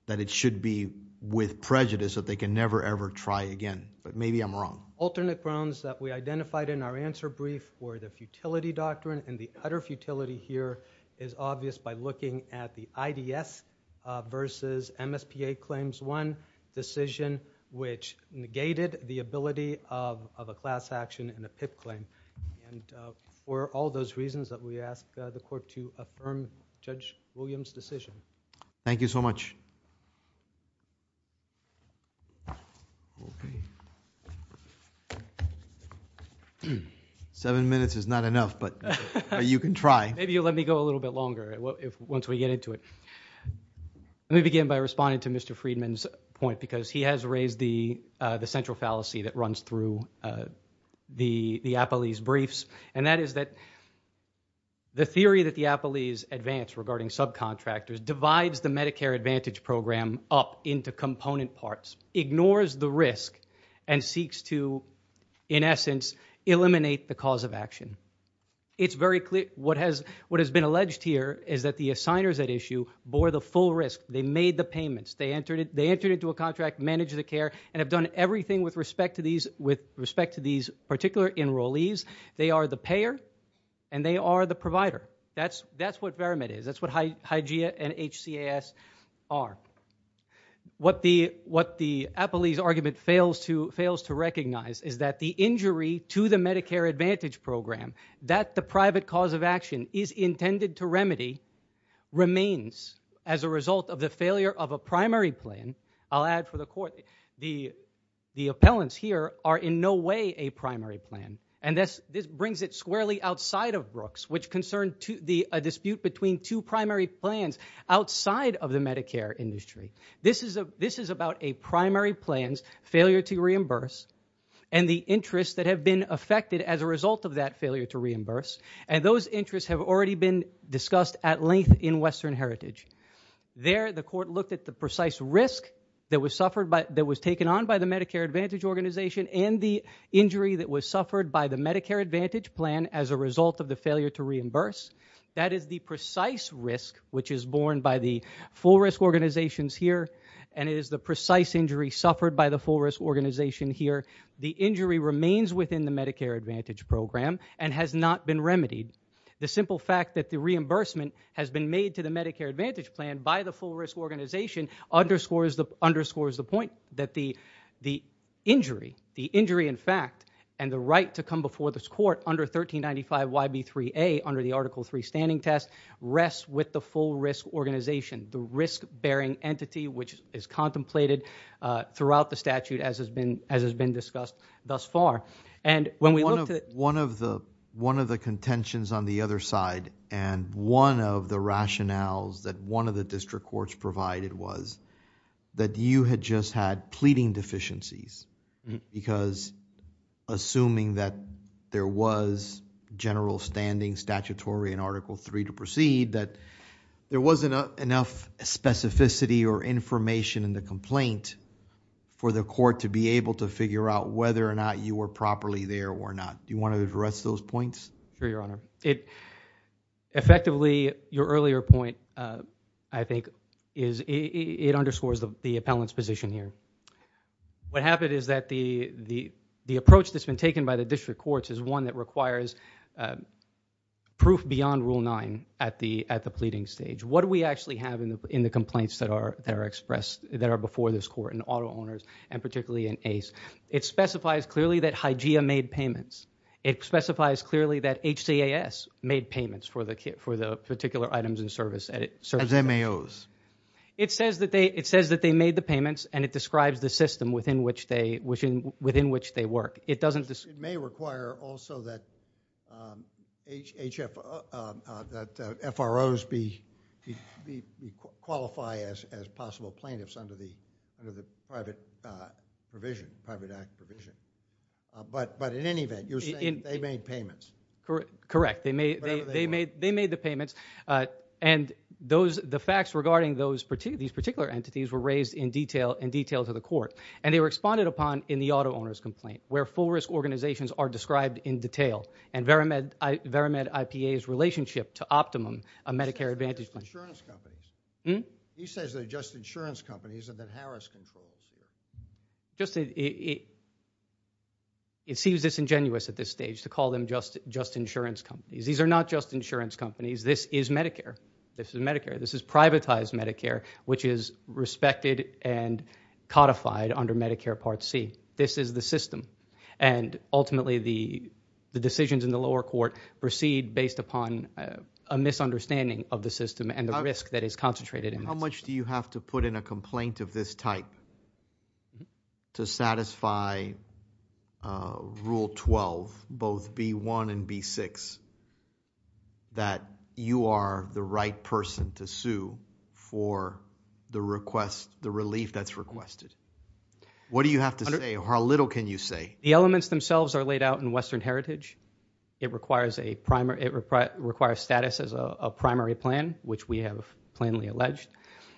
that it should be with prejudice that they can never, ever try again. But maybe I'm wrong. Alternate grounds that we identified in our answer brief were the futility doctrine. And the utter futility here is obvious by looking at the IDS versus MSPA claims. One decision which negated the ability of a class action and a PIP claim. And for all those reasons that we ask the court to affirm Judge Williams' decision. Thank you so much. Seven minutes is not enough, but you can try. Maybe you'll let me go a little bit longer once we get into it. Let me begin by responding to Mr. Friedman point because he has raised the central fallacy that runs through the Apalis briefs. And that is that the theory that the Apalis advanced regarding subcontractors divides the Medicare Advantage program up into component parts. Ignores the risk and seeks to, in essence, eliminate the cause of action. It's very clear what has been alleged here is that the assigners at issue bore the full risk. They made the payments. They entered into a contract, managed the care, and have done everything with respect to these particular enrollees. They are the payer, and they are the provider. That's what Veramet is. That's what Hygieia and HCAS are. What the Apalis argument fails to recognize is that the injury to the Medicare Advantage program, that the private cause of action is intended to remedy, remains as a result of the failure of a primary plan. I'll add for the court, the appellants here are in no way a primary plan. And this brings it squarely outside of Brooks, which concerned a dispute between two primary plans outside of the Medicare industry. This is about a primary plan's failure to reimburse and the interests that have been affected as a result of that failure to reimburse. And those interests have already been discussed at length in Western Heritage. There, the court looked at the precise risk that was taken on by the Medicare Advantage organization and the injury that was suffered by the Medicare Advantage plan as a result of the failure to reimburse. That is the precise risk, which is borne by the full risk organizations here. And it is the precise injury suffered by the full risk organization here. The injury remains within the Medicare Advantage program and has not been remedied. The simple fact that the reimbursement has been made to the Medicare Advantage plan by the full risk organization underscores the point that the injury, the injury in fact, and the right to come before this court under 1395YB3A under the article three standing test rests with the full risk organization, the risk bearing entity, which is contemplated throughout the statute as has been discussed thus far. And when we looked at- One of the contentions on the other side and one of the rationales that one of the district courts provided was that you had just had pleading deficiencies because assuming that there was general standing statutory in article three to proceed, that there wasn't enough specificity or information in the complaint for the court to be able to figure out whether or not you were properly there or not. Do you want to address those points? Sure, Your Honor. Effectively, your earlier point, I think, is it underscores the appellant's position here. What happened is that the approach that's been taken by the district courts is one that requires proof beyond rule nine at the pleading stage. What do we actually have in the complaints that are expressed that are before this court in auto owners and particularly in ACE? It specifies clearly that Hygeia made payments. It specifies clearly that HCAS made payments for the particular items in service. As MAOs. It says that they made the payments and it describes the system within which they work. It doesn't- It may require also that FROs qualify as possible plaintiffs under the private provision, private act provision. But in any event, you're saying they made payments. Correct. They made the payments. And the facts regarding these particular entities were raised in detail to the court. And they were responded upon in the auto owners complaint where full risk organizations are described in detail and Veramed IPA's relationship to Optimum, a Medicare Advantage plan. Insurance companies. He says they're just insurance companies and that Harris controls. It seems disingenuous at this stage to call them just insurance companies. These are not just insurance companies. This is Medicare. This is Medicare. This is privatized Medicare, which is respected and codified under Medicare Part C. This is the system. And ultimately, the decisions in the lower court proceed based upon a misunderstanding of the system and the risk that is concentrated in it. How much do you have to put in a complaint of this type to satisfy Rule 12, both B1 and B6, that you are the right person to sue for the request, the relief that's requested? What do you have to say? How little can you say? The elements themselves are laid out in Western Heritage. It requires a primary. It requires status as a primary plan, which we have plainly alleged.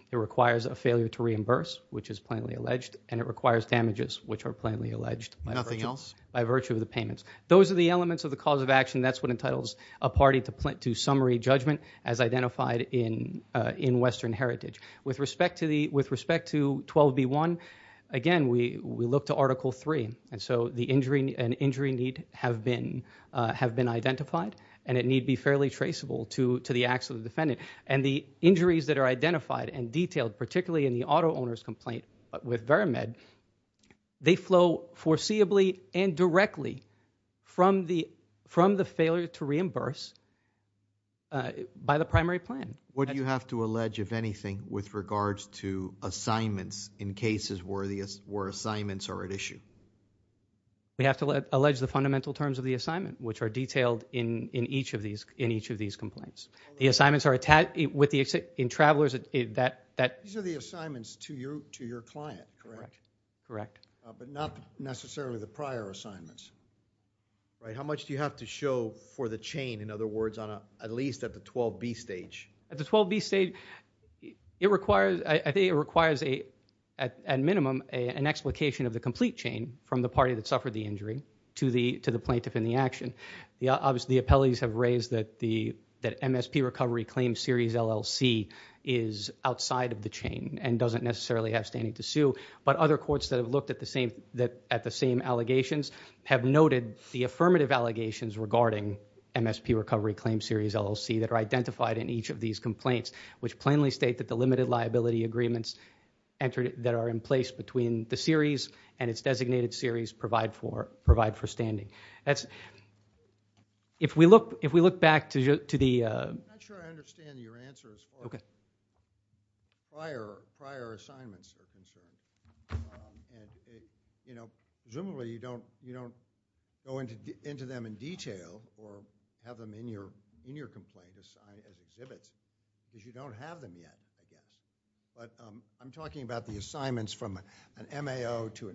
It requires a failure to reimburse, which is plainly alleged. And it requires damages, which are plainly alleged. Nothing else? By virtue of the payments. Those are the elements of the cause of action. That's what entitles a party to summary judgment as identified in Western Heritage. With respect to 12B1, again, we look to Article 3. And so an injury need have been identified. And it need be fairly traceable to the acts of the defendant. The injuries that are identified and detailed, particularly in the auto owner's complaint with Veramed, they flow foreseeably and directly from the failure to reimburse by the primary plan. What do you have to allege, if anything, with regards to assignments in cases where assignments are at issue? We have to allege the fundamental terms of the assignment, which are detailed in each of these complaints. The assignments are attached with the travelers that... These are the assignments to your client, correct? Correct. But not necessarily the prior assignments, right? How much do you have to show for the chain, in other words, at least at the 12B stage? At the 12B stage, I think it requires, at minimum, an explication of the complete chain from the party that suffered the injury to the plaintiff in the action. The appellees have raised that MSP Recovery Claim Series LLC is outside of the chain and doesn't necessarily have standing to sue, but other courts that have looked at the same allegations have noted the affirmative allegations regarding MSP Recovery Claim Series LLC that are identified in each of these complaints, which plainly state that the limited liability agreements that are in place between the series and its designated series provide for standing. That's... If we look back to the... I'm not sure I understand your answer as far as... Okay. ...prior assignments are concerned. And, you know, presumably you don't go into them in detail or have them in your complaint as exhibits because you don't have them yet, I guess. But I'm talking about the assignments from an MAO to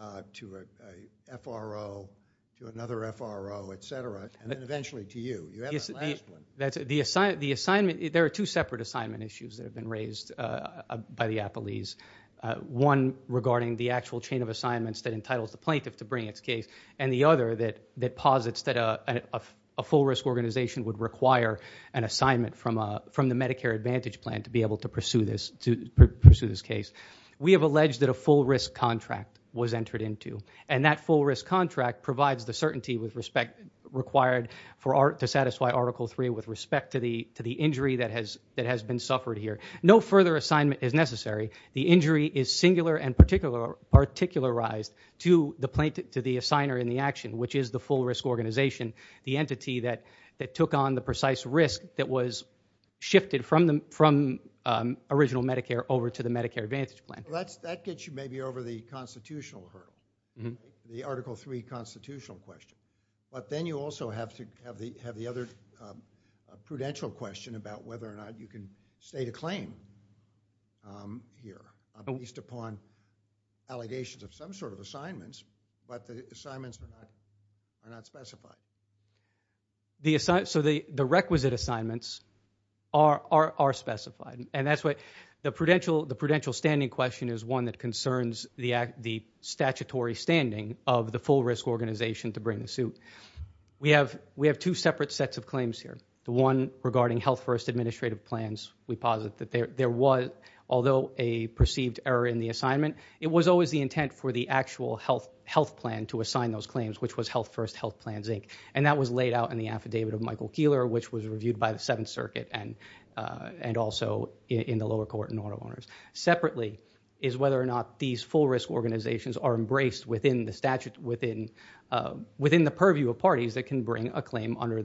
a FRO to another FRO, et cetera, and then eventually to you. You have that last one. That's... There are two separate assignment issues that have been raised by the appellees. One regarding the actual chain of assignments that entitles the plaintiff to bring its case and the other that posits that a full-risk organization would require an assignment from the Medicare Advantage Plan to be able to pursue this case. We have alleged that a full-risk contract was entered into. And that full-risk contract provides the certainty required to satisfy Article III with respect to the injury that has been suffered here. No further assignment is necessary. The injury is singular and particularized to the plaintiff, to the assigner in the action, which is the full-risk organization, the entity that took on the precise risk that was shifted from original Medicare over to the Medicare Advantage Plan. Well, that gets you maybe over the constitutional hurdle, the Article III constitutional question. But then you also have the other prudential question about whether or not you can state a claim here, at least upon allegations of some sort of assignments, but the assignments are not specified. So the requisite assignments are specified. And that's what the prudential standing question is one that concerns the statutory standing of the full-risk organization to bring the suit. We have two separate sets of claims here. The one regarding Health First Administrative Plans, we posit that there was, although a perceived error in the assignment, it was always the intent for the actual health plan to assign those claims, which was Health First Health Plans, Inc. And that was laid out in the affidavit of Michael Keeler, which was reviewed by the Seventh Circuit and also in the lower court in order of honors. Separately is whether or not these full-risk organizations are embraced within the purview of parties that can bring a claim under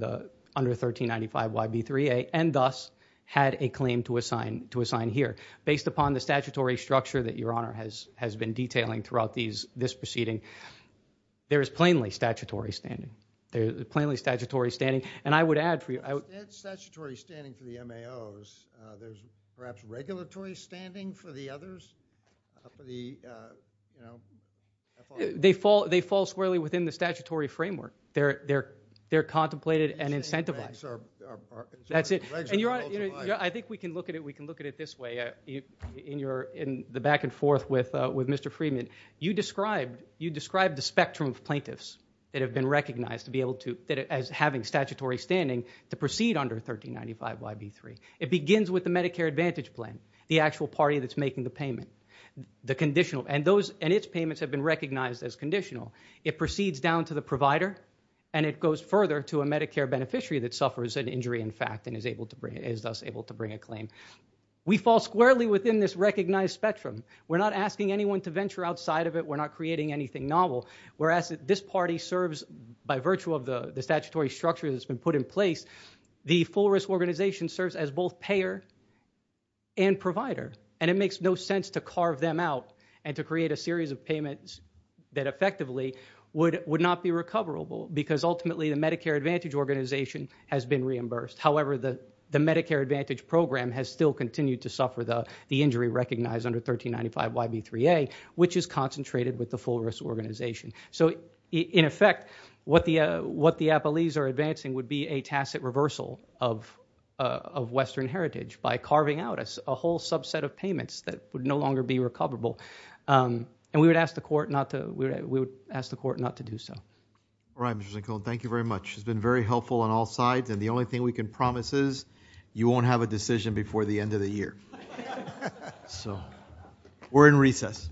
1395YB3A and thus had a claim to assign here. Based upon the statutory structure that Your Honor has been detailing throughout this proceeding, there is plainly statutory standing. There is plainly statutory standing. And I would add for you... It's statutory standing for the MAOs. There's perhaps regulatory standing for the others? They fall squarely within the statutory framework. They're contemplated and incentivized. That's it. I think we can look at it this way. In the back and forth with Mr. Freeman, you described the spectrum of plaintiffs that have been recognized to be able to... as having statutory standing to proceed under 1395YB3. It begins with the Medicare Advantage Plan, the actual party that's making the payment, the conditional. And its payments have been recognized as conditional. It proceeds down to the provider and it goes further to a Medicare beneficiary that suffers an injury in fact and is thus able to bring a claim. We fall squarely within this recognized spectrum. We're not asking anyone to venture outside of it. We're not creating anything novel. Whereas this party serves by virtue of the statutory structure that's been put in place, the full risk organization serves as both payer and provider. And it makes no sense to carve them out and to create a series of payments that effectively would not be recoverable because ultimately the Medicare Advantage Organization has been reimbursed. However, the Medicare Advantage Program has still continued to suffer the injury recognized under 1395YB3A, which is concentrated with the full risk organization. So in effect, what the Applees are advancing would be a tacit reversal of Western heritage by carving out a whole subset of payments that would no longer be recoverable. And we would ask the court not to do so. All right, Mr. Zincon. Thank you very much. It's been very helpful on all sides. And the only thing we can promise is you won't have a decision before the end of the year. So we're in recess.